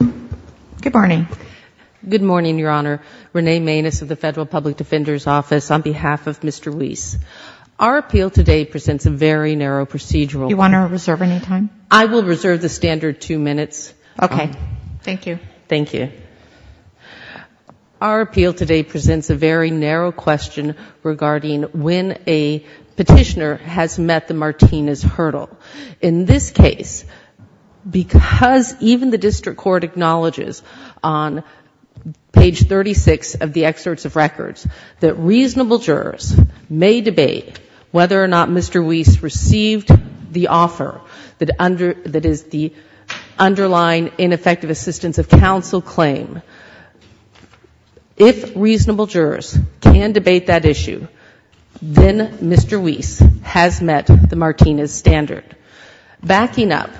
Good morning. Good morning, Your Honor. Renee Maness of the Federal Public Defender's Office on behalf of Mr. Wiese. Our appeal today presents a very narrow procedural. Do you want to reserve any time? I will reserve the standard two minutes. Okay. Thank you. Thank you. Our appeal today presents a very narrow question regarding when a petitioner has met the Martinez hurdle. In this case, because even the district court acknowledges on page 36 of the excerpts of records that reasonable jurors may debate whether or not Mr. Wiese received the offer that is the underlying ineffective assistance of counsel claim. If reasonable jurors can debate that issue, then Mr. Wiese has met the Martinez standard. Backing up,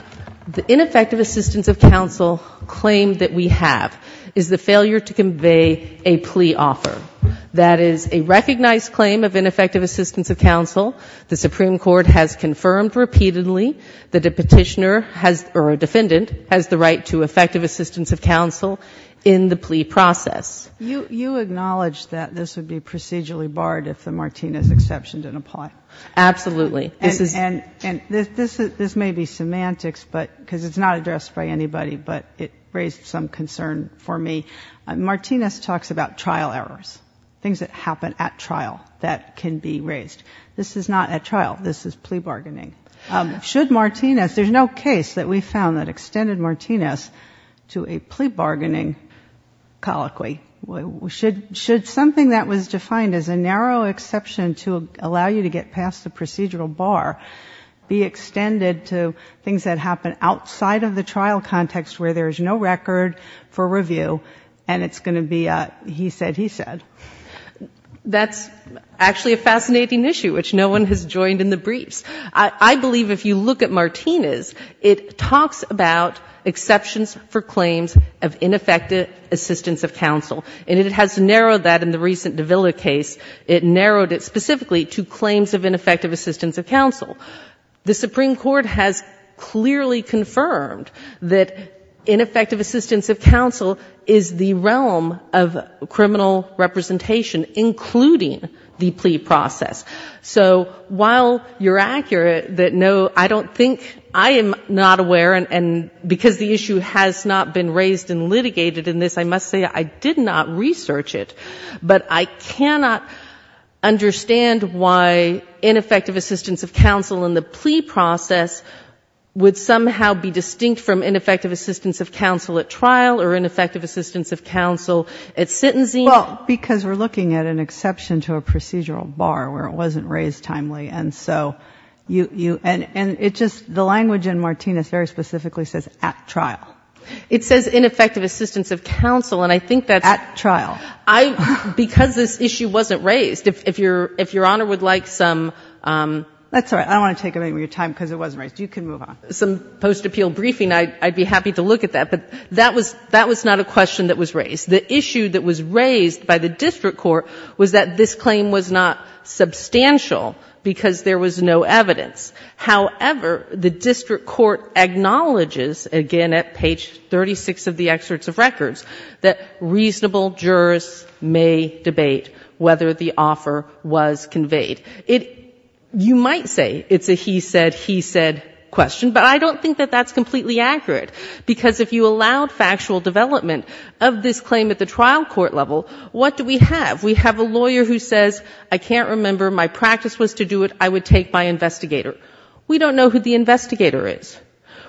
the ineffective assistance of counsel claim that we have is the failure to convey a plea offer. That is a recognized claim of ineffective assistance of counsel. The Supreme Court has confirmed repeatedly that a petitioner has, or a defendant, has the right to effective assistance of counsel in the plea process. You acknowledge that this would be procedurally barred if the Martinez exception didn't apply? Absolutely. And this may be semantics, because it's not addressed by anybody, but it raised some concern for me. Martinez talks about trial errors, things that happen at trial that can be raised. This is not at trial. This is plea bargaining. Should Martinez, there's no case that we found that extended Martinez to a plea bargaining colloquy. Should something that was defined as a narrow exception to allow you to get past the procedural bar be extended to things that happen outside of the trial context where there is no record for review, and it's going to be a he said, he said? That's actually a fascinating issue, which no one has joined in the briefs. I believe if you look at Martinez, it talks about exceptions for claims of ineffective assistance of counsel, and it has narrowed that in the recent Davila case. It narrowed it specifically to claims of ineffective assistance of counsel. The Supreme Court has clearly confirmed that ineffective assistance of counsel is the realm of criminal representation, including the plea process. So while you're accurate that no, I don't think, I am not aware, and because the issue has not been raised and litigated in this, I must say I did not research it. But I cannot understand why ineffective assistance of counsel in the plea process would somehow be distinct from ineffective assistance of counsel at trial or ineffective assistance of counsel at sentencing. Well, because we're looking at an exception to a procedural bar where it wasn't raised timely, and so you, and it just, the language in Martinez very specifically says at trial. It says ineffective assistance of counsel, and I think that's. At trial. Because this issue wasn't raised. If Your Honor would like some. That's all right. I don't want to take up any more of your time because it wasn't raised. You can move on. Some post-appeal briefing, I'd be happy to look at that, but that was not a question that was raised. The issue that was raised by the district court was that this claim was not substantial because there was no evidence. However, the district court acknowledges, again at page 36 of the excerpts of records, that reasonable jurors may debate whether the offer was conveyed. You might say it's a he said, he said question, but I don't think that that's completely accurate because if you allowed factual development of this claim at the trial court level, what do we have? We have a lawyer who says, I can't remember. My practice was to do it. I would take my investigator. We don't know who the investigator is.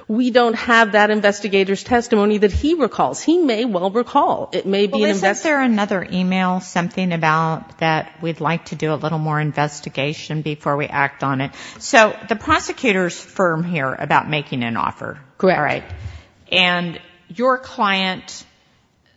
We don't have that investigator's testimony that he recalls. He may well recall. It may be an investigator. Well, isn't there another email, something about that we'd like to do a little more investigation before we act on it? So the prosecutor's firm here about making an offer. Correct. All right. And your client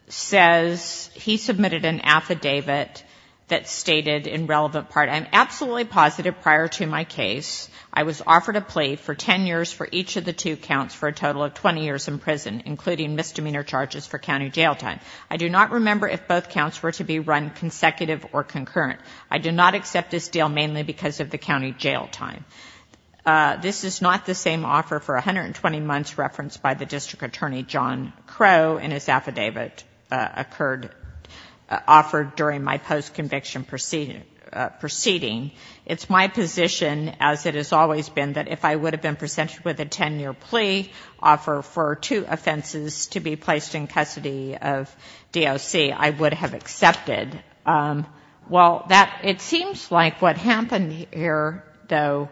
says he submitted an affidavit that stated in relevant part, I'm absolutely positive prior to my case, I was offered a plea for 10 years for each of the two counts for a total of 20 years in prison, including misdemeanor charges for county jail time. I do not remember if both counts were to be run consecutive or concurrent. I do not accept this deal mainly because of the county jail time. This is not the same offer for 120 months referenced by the district attorney, John Crowe, and his affidavit occurred, offered during my post conviction proceeding. It's my position, as it has always been, that if I would have been presented with a 10 year plea offer for two offenses to be placed in custody of DOC, I would have accepted. Well, it seems like what happened here, though,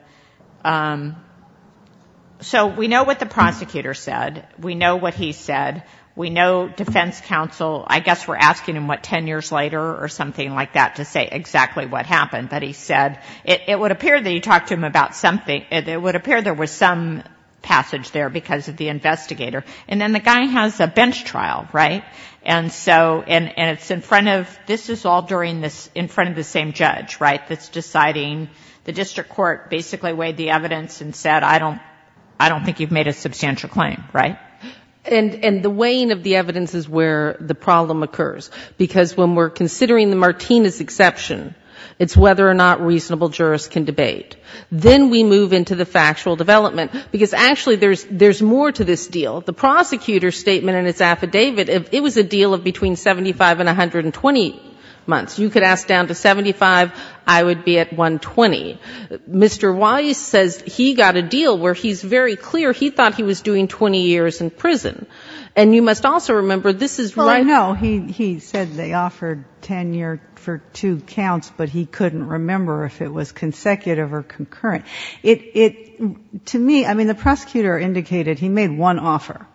so we know what the prosecutor said. We know what he said. We know defense counsel, I guess we're asking him what, 10 years later or something like that to say exactly what happened, but he said it would appear that he talked to him about something, it would appear there was some passage there because of the investigator. And then the guy has a bench trial, right? And so, and it's in front of, this is all during this, in front of the same judge, right, that's deciding, the district court basically weighed the evidence and said, I don't think you've made a substantial claim, right? And the weighing of the evidence is where the problem occurs, because when we're considering the Martinez exception, it's whether or not reasonable jurists can debate. Then we move into the factual development, because actually there's more to this deal. The prosecutor's statement in his affidavit, it was a deal of between 75 and 120 months. You could ask down to 75, I would be at 120. Mr. Wise says he got a deal where he's very clear he thought he was doing 20 years in prison. And you must also remember this is right. Well, I know. He said they offered tenure for two counts, but he couldn't remember if it was consecutive or concurrent. It, to me, I mean, the prosecutor indicated he made one offer.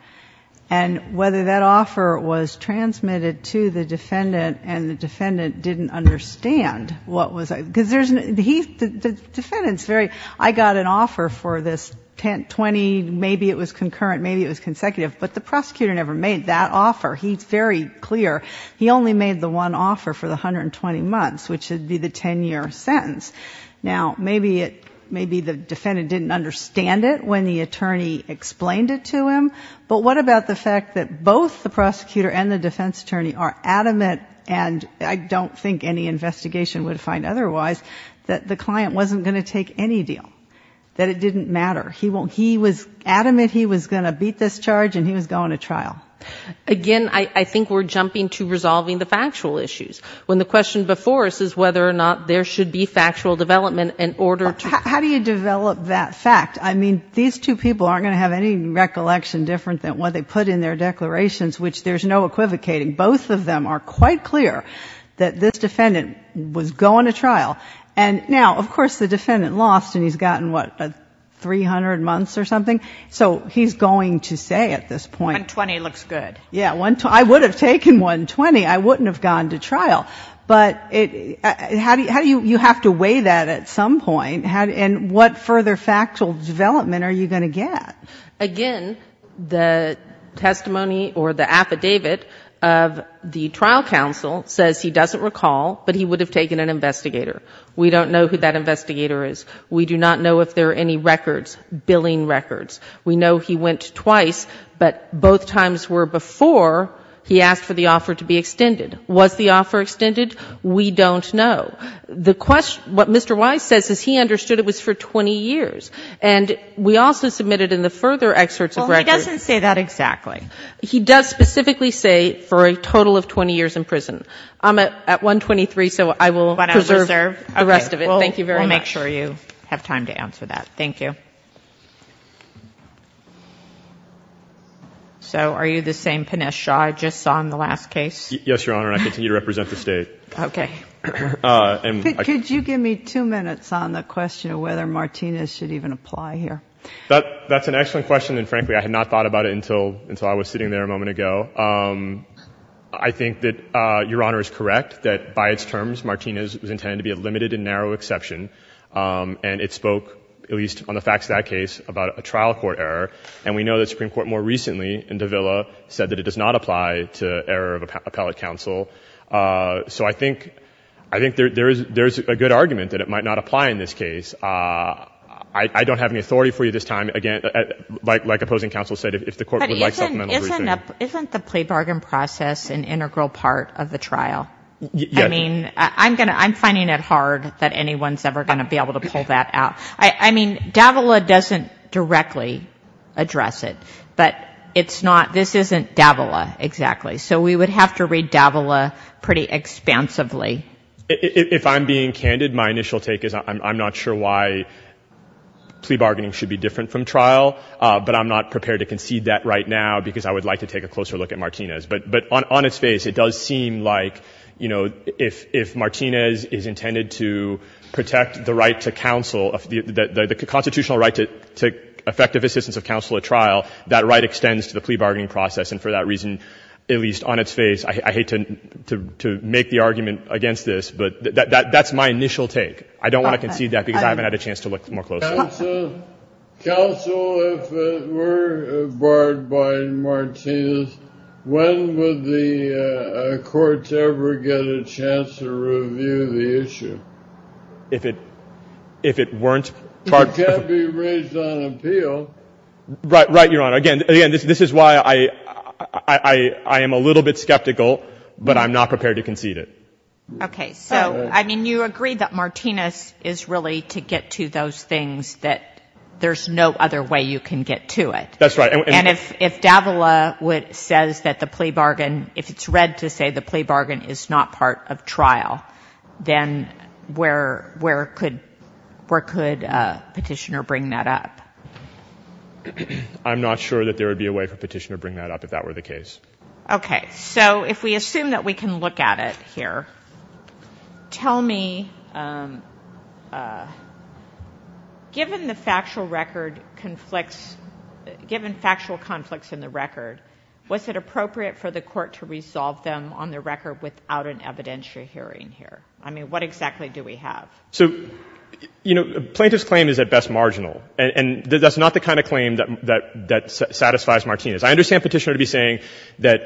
And whether that offer was transmitted to the defendant and the defendant didn't understand what was, because there's, he, the defendant's very, I got an offer for this 20, maybe it was concurrent, maybe it was consecutive, but the prosecutor never made that offer. He's very clear. He only made the one offer for the 120 months, which would be the tenure sentence. Now, maybe it, maybe the defendant didn't understand it when the attorney explained it to him. But what about the fact that both the prosecutor and the defense attorney are think any investigation would find otherwise, that the client wasn't going to take any deal? That it didn't matter? He was adamant he was going to beat this charge and he was going to trial? Again, I think we're jumping to resolving the factual issues, when the question before us is whether or not there should be factual development in order to How do you develop that fact? I mean, these two people aren't going to have any recollection different than what they put in their declarations, which there's no equivocating. Both of them are quite clear that this defendant was going to trial. And now, of course, the defendant lost and he's gotten, what, 300 months or something? So he's going to say at this point 120 looks good. Yeah. I would have taken 120. I wouldn't have gone to trial. But how do you have to weigh that at some point? And what further factual development are you going to get? Again, the testimony or the affidavit of the trial counsel says he doesn't recall, but he would have taken an investigator. We don't know who that investigator is. We do not know if there are any records, billing records. We know he went twice, but both times were before he asked for the offer to be extended. Was the offer extended? We don't know. The question, what Mr. Wise says is he understood it was for 20 years. And we also submitted in the further excerpts of records. Well, he doesn't say that exactly. He does specifically say for a total of 20 years in prison. I'm at 123, so I will preserve the rest of it. Thank you very much. We'll make sure you have time to answer that. Thank you. So are you the same Pinesh Shah I just saw in the last case? Yes, Your Honor, and I continue to represent the State. Okay. Could you give me two minutes on the question of whether Martinez should even apply here? That's an excellent question, and frankly, I had not thought about it until I was sitting there a moment ago. I think that Your Honor is correct, that by its terms, Martinez was intended to be a limited and narrow exception, and it spoke, at least on the facts of that case, about a trial court error. And we know that the Supreme Court more recently in Davila said that it does not apply to error of appellate counsel. So I think there's a good argument that it might not apply in this case. I don't have any authority for you this time. Again, like opposing counsel said, if the Court would like supplemental briefing. But isn't the plea bargain process an integral part of the trial? Yes. I mean, I'm finding it hard that anyone's ever going to be able to pull that out. I mean, Davila doesn't directly address it, but it's not — this isn't Davila exactly. So we would have to read Davila pretty expansively. If I'm being candid, my initial take is I'm not sure why plea bargaining should be different from trial, but I'm not prepared to concede that right now, because I would like to take a closer look at Martinez. But on its face, it does seem like, you know, if Martinez is intended to protect the right to counsel, the constitutional right to effective assistance of counsel at trial, that right extends to the plea bargaining process. And for that reason, at least on its face, I hate to make the argument against this, but that's my initial take. I don't want to concede that because I haven't had a chance to look more closely. Counsel, if it were barred by Martinez, when would the courts ever get a chance to review the issue? If it weren't — It can't be raised on appeal. Right, Your Honor. Again, this is why I am a little bit skeptical, but I'm not prepared to concede it. Okay. So, I mean, you agree that Martinez is really to get to those things that there's no other way you can get to it. That's right. And if Davila says that the plea bargain, if it's read to say the plea bargain is not part of trial, then where could Petitioner bring that up? I'm not sure that there would be a way for Petitioner to bring that up if that were the case. Okay. So if we assume that we can look at it here, tell me, given the factual record conflicts — given factual conflicts in the record, was it appropriate for the court to resolve them on the record without an evidentiary hearing here? I mean, what exactly do we have? So, you know, plaintiff's claim is at best marginal. And that's not the kind of claim that satisfies Martinez. I understand Petitioner to be saying that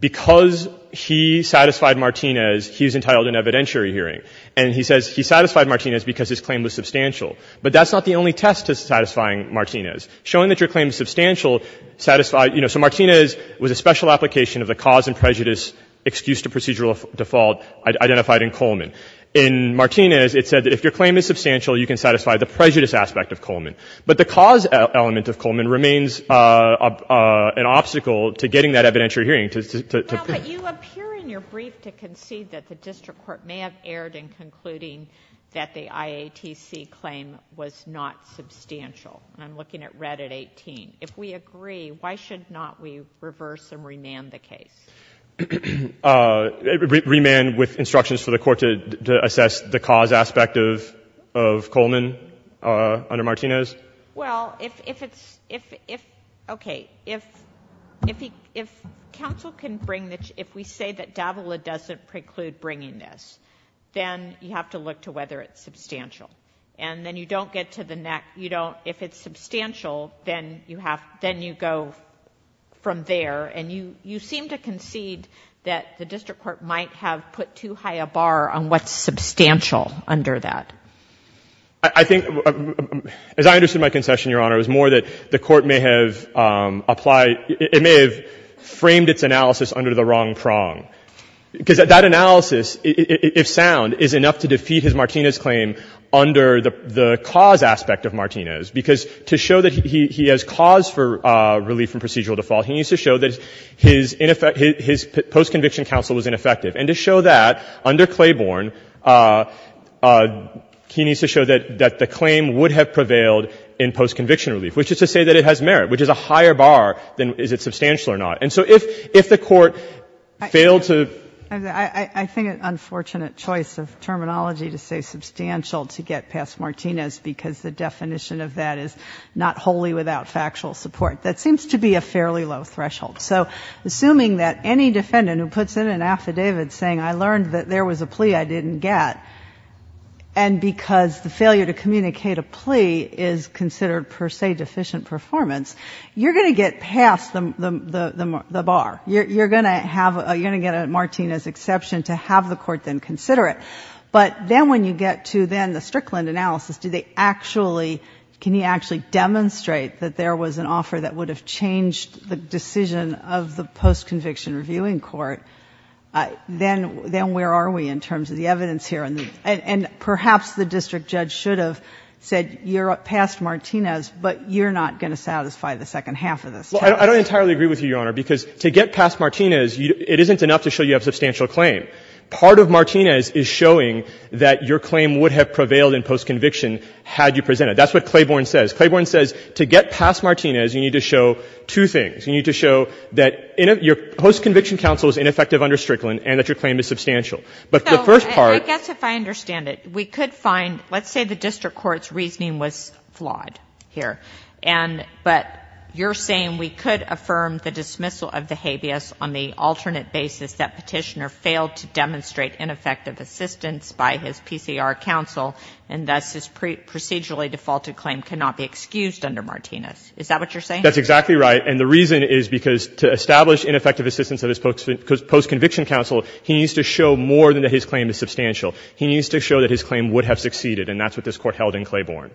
because he satisfied Martinez, he's entitled to an evidentiary hearing. And he says he satisfied Martinez because his claim was substantial. But that's not the only test to satisfying Martinez. Showing that your claim is substantial satisfied — you know, so Martinez was a special application of the cause and prejudice excuse to procedural default identified in Coleman. In Martinez, it said that if your claim is substantial, you can satisfy the prejudice aspect of Coleman. But the cause element of Coleman remains an obstacle to getting that evidentiary hearing to — Well, but you appear in your brief to concede that the district court may have erred in concluding that the IATC claim was not substantial. And I'm looking at red at 18. If we agree, why should not we reverse and remand the case? Remand with instructions for the court to assess the cause aspect of Coleman under Martinez? Well, if it's — if — okay. If counsel can bring the — if we say that Davila doesn't preclude bringing this, then you have to look to whether it's substantial. And then you don't get to the next — you don't — if it's substantial, then you have — then you go from there. And you seem to concede that the district court might have put too high a bar on what's substantial under that. I think — as I understood my concession, Your Honor, it was more that the court may have applied — it may have framed its analysis under the wrong prong. Because that analysis, if sound, is enough to defeat his Martinez claim under the cause aspect of Martinez. Because to show that he has cause for relief from procedural default, he needs to show that his post-conviction counsel was ineffective. And to show that, under Claiborne, he needs to show that the claim would have prevailed in post-conviction relief, which is to say that it has merit, which is a higher bar than is it substantial or not. And so if the court failed to — I think an unfortunate choice of terminology to say substantial to get past Martinez because the definition of that is not wholly without factual support. That seems to be a fairly low threshold. So assuming that any defendant who puts in an affidavit saying I learned that there was a plea I didn't get, and because the failure to communicate a plea is considered per se deficient performance, you're going to get past the bar. You're going to have — you're going to get a Martinez exception to have the court then consider it. But then when you get to then the Strickland analysis, do they actually — can he actually demonstrate that there was an offer that would have changed the decision of the post-conviction reviewing court? Then where are we in terms of the evidence here? And perhaps the district judge should have said you're past Martinez, but you're not going to satisfy the second half of this case. Well, I don't entirely agree with you, Your Honor, because to get past Martinez, it isn't enough to show you have substantial claim. Part of Martinez is showing that your claim would have prevailed in post-conviction had you presented. That's what Claiborne says. Claiborne says to get past Martinez, you need to show two things. You need to show that your post-conviction counsel is ineffective under Strickland and that your claim is substantial. But the first part — So I guess if I understand it, we could find — let's say the district court's reasoning was flawed here, and — but you're saying we could affirm the dismissal That's exactly right. And the reason is because to establish ineffective assistance of his post-conviction counsel, he needs to show more than that his claim is substantial. He needs to show that his claim would have succeeded, and that's what this Court held in Claiborne.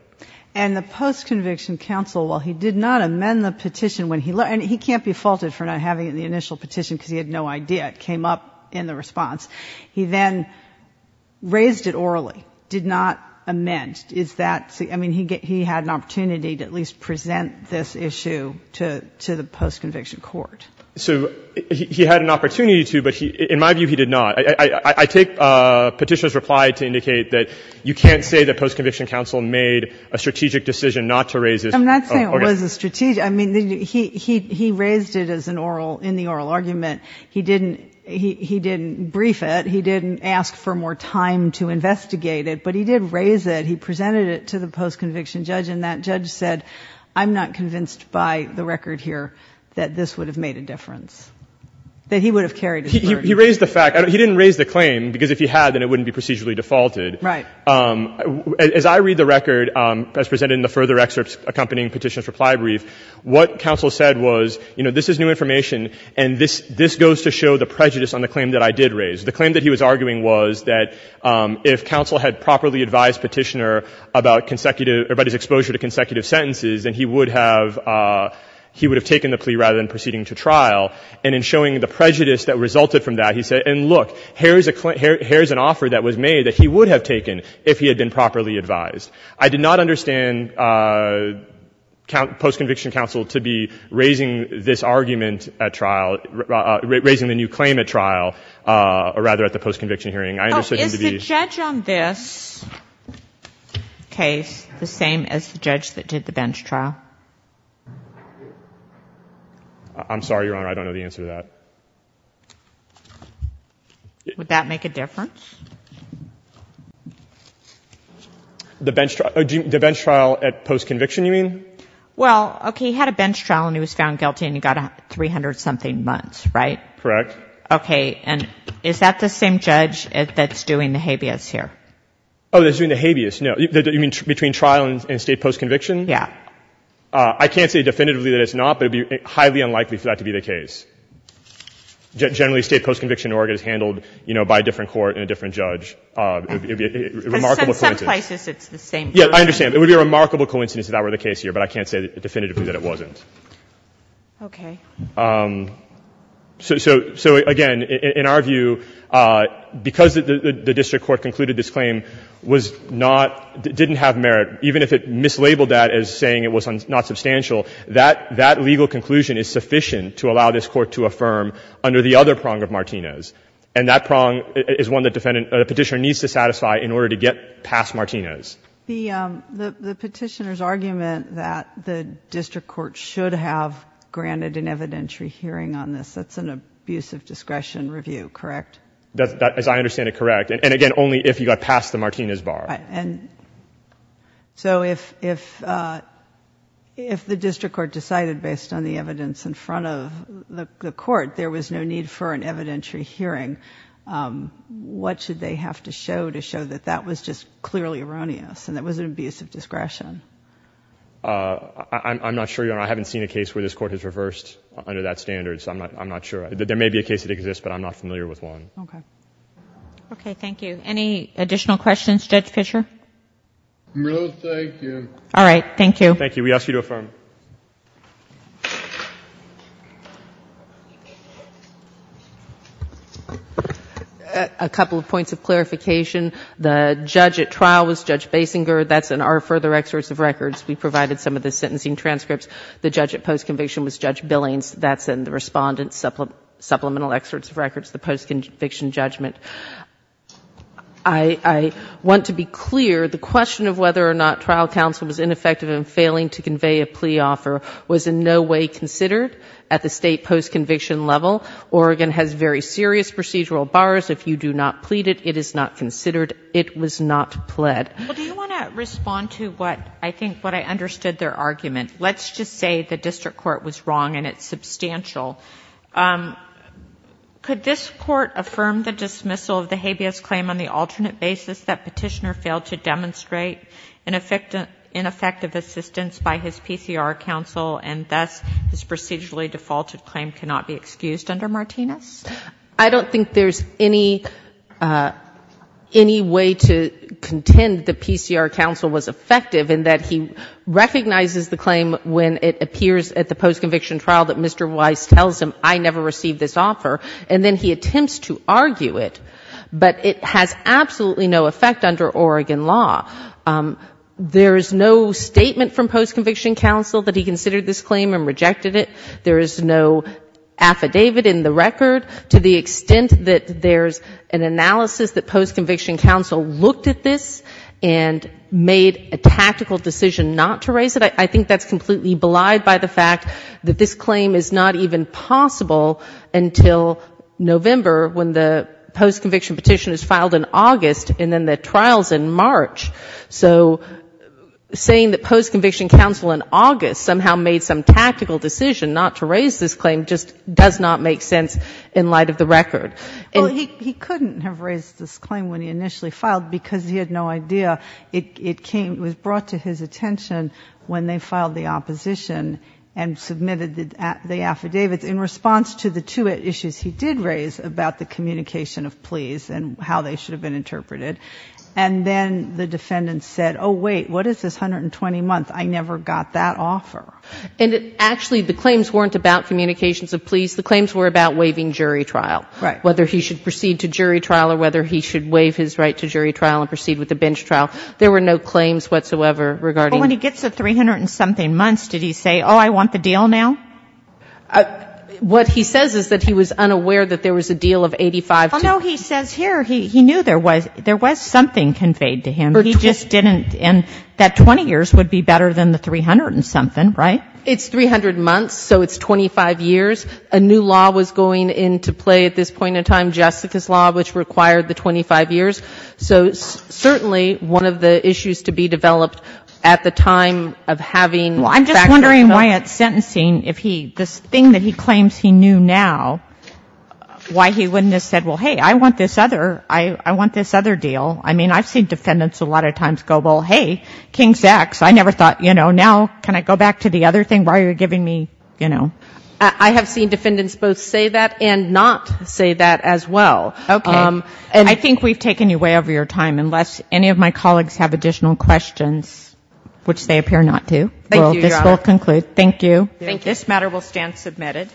And the post-conviction counsel, while he did not amend the petition when he — and he can't be faulted for not having the initial petition because he had no idea. It came up in the response. He then raised it orally, did not amend. Is that — I mean, he had an opportunity to at least present this issue to the post-conviction court. So he had an opportunity to, but he — in my view, he did not. I take Petitioner's reply to indicate that you can't say that post-conviction counsel made a strategic decision not to raise this. I'm not saying it was a strategic — I mean, he raised it as an oral — in the oral argument. He didn't — he didn't brief it. He didn't ask for more time to investigate it. But he did raise it. He presented it to the post-conviction judge, and that judge said, I'm not convinced by the record here that this would have made a difference, that he would have carried his verdict. He raised the fact — he didn't raise the claim, because if he had, then it wouldn't be procedurally defaulted. Right. As I read the record, as presented in the further excerpts accompanying Petitioner's reply brief, what counsel said was, you know, this is new information, and this goes to show the prejudice on the claim that I did raise. The claim that he was arguing was that if counsel had properly advised Petitioner about consecutive — about his exposure to consecutive sentences, then he would have — he would have taken the plea rather than proceeding to trial. And in showing the prejudice that resulted from that, he said, and look, here is a — here is an offer that was made that he would have taken if he had been properly advised. I did not understand post-conviction counsel to be raising this argument at trial — raising the new claim at trial, or rather at the post-conviction hearing. I understood him to be — Oh, is the judge on this case the same as the judge that did the bench trial? I'm sorry, Your Honor. I don't know the answer to that. Would that make a difference? The bench — the bench trial at post-conviction, you mean? Well, okay, he had a bench trial, and he was found guilty, and he got 300-something months, right? Correct. Okay. And is that the same judge that's doing the habeas here? Oh, that's doing the habeas? No. You mean between trial and state post-conviction? Yeah. I can't say definitively that it's not, but it would be highly unlikely for that to be the case. Generally, state post-conviction in Oregon is handled, you know, by a different court and a different judge. It would be a remarkable coincidence. In some places, it's the same person. Yeah, I understand. It would be a remarkable coincidence if that were the case here, but I can't say definitively that it wasn't. Okay. So, again, in our view, because the district court concluded this claim was not — didn't have merit, even if it mislabeled that as saying it was not substantial, that legal conclusion is sufficient to allow this Court to affirm under the other prong of Martinez. And that prong is one that the Petitioner needs to satisfy in order to get past Martinez. The Petitioner's argument that the district court should have granted an evidentiary hearing on this, that's an abuse of discretion review, correct? As I understand it, correct. And, again, only if you got past the Martinez bar. Right. And so if the district court decided based on the evidence in front of the court there was no need for an evidentiary hearing, what should they have to show to show that that was just clearly erroneous and that was an abuse of discretion? I'm not sure, Your Honor. I haven't seen a case where this Court has reversed under that standard, so I'm not sure. There may be a case that exists, but I'm not familiar with one. Okay. Okay. Thank you. Any additional questions, Judge Fischer? No, thank you. All right. Thank you. Thank you. We ask you to affirm. A couple of points of clarification. The judge at trial was Judge Basinger. That's in our further excerpts of records. We provided some of the sentencing transcripts. The judge at post-conviction was Judge Billings. That's in the Respondent's supplemental excerpts of records, the post-conviction judgment. I want to be clear. The question of whether or not trial counsel was ineffective in failing to convey a plea offer was in no way considered at the state post-conviction level. Oregon has very serious procedural bars. If you do not plead it, it is not considered. It was not pled. Well, do you want to respond to what I think, what I understood their argument? Let's just say the district court was wrong, and it's substantial. Could this court affirm the dismissal of the habeas claim on the alternate basis that petitioner failed to demonstrate an ineffective assistance by his PCR counsel and thus his procedurally defaulted claim cannot be excused under Martinez? I don't think there's any way to contend that PCR counsel was effective in that he recognizes the claim when it appears at the post-conviction trial that Mr. Weiss tells him, I never received this offer, and then he attempts to argue it. But it has absolutely no effect under Oregon law. There is no statement from post-conviction counsel that he considered this claim and rejected it. There is no affidavit in the record. To the extent that there's an analysis that post-conviction counsel looked at this and made a tactical decision not to raise it, I think that's completely belied by the fact that this claim is not even possible until November, when the post-conviction petition is filed in August and then the trial's in March. So saying that post-conviction counsel in August somehow made some tactical decision not to raise this claim just does not make sense in light of the record. Well, he couldn't have raised this claim when he initially filed because he had no idea. It came, it was brought to his attention when they filed the opposition and submitted the affidavits in response to the two issues he did raise about the communication of pleas and how they should have been interpreted. And then the defendant said, oh, wait, what is this 120 months? I never got that offer. And actually the claims weren't about communications of pleas. The claims were about waiving jury trial, whether he should proceed to jury trial or whether he should waive his right to jury trial and proceed with the bench trial. There were no claims whatsoever regarding the... But when he gets the 300-and-something months, did he say, oh, I want the deal now? What he says is that he was unaware that there was a deal of 85 to... Well, no, he says here he knew there was something conveyed to him. He just didn't, and that 20 years would be better than the 300-and-something, right? It's 300 months, so it's 25 years. A new law was going into play at this point in time, Jessica's law, which required the 25 years. So certainly one of the issues to be developed at the time of having... Well, I'm just wondering why at sentencing if he, this thing that he claims he knew now, why he wouldn't have said, well, hey, I want this other deal. I mean, I've seen defendants a lot of times go, well, hey, King's X. I never thought, you know, now can I go back to the other thing? Why are you giving me, you know? I have seen defendants both say that and not say that as well. Okay. And I think we've taken you way over your time, unless any of my colleagues have additional questions, which they appear not to. Thank you, Your Honor. Well, this will conclude. Thank you. Thank you. This matter will stand submitted.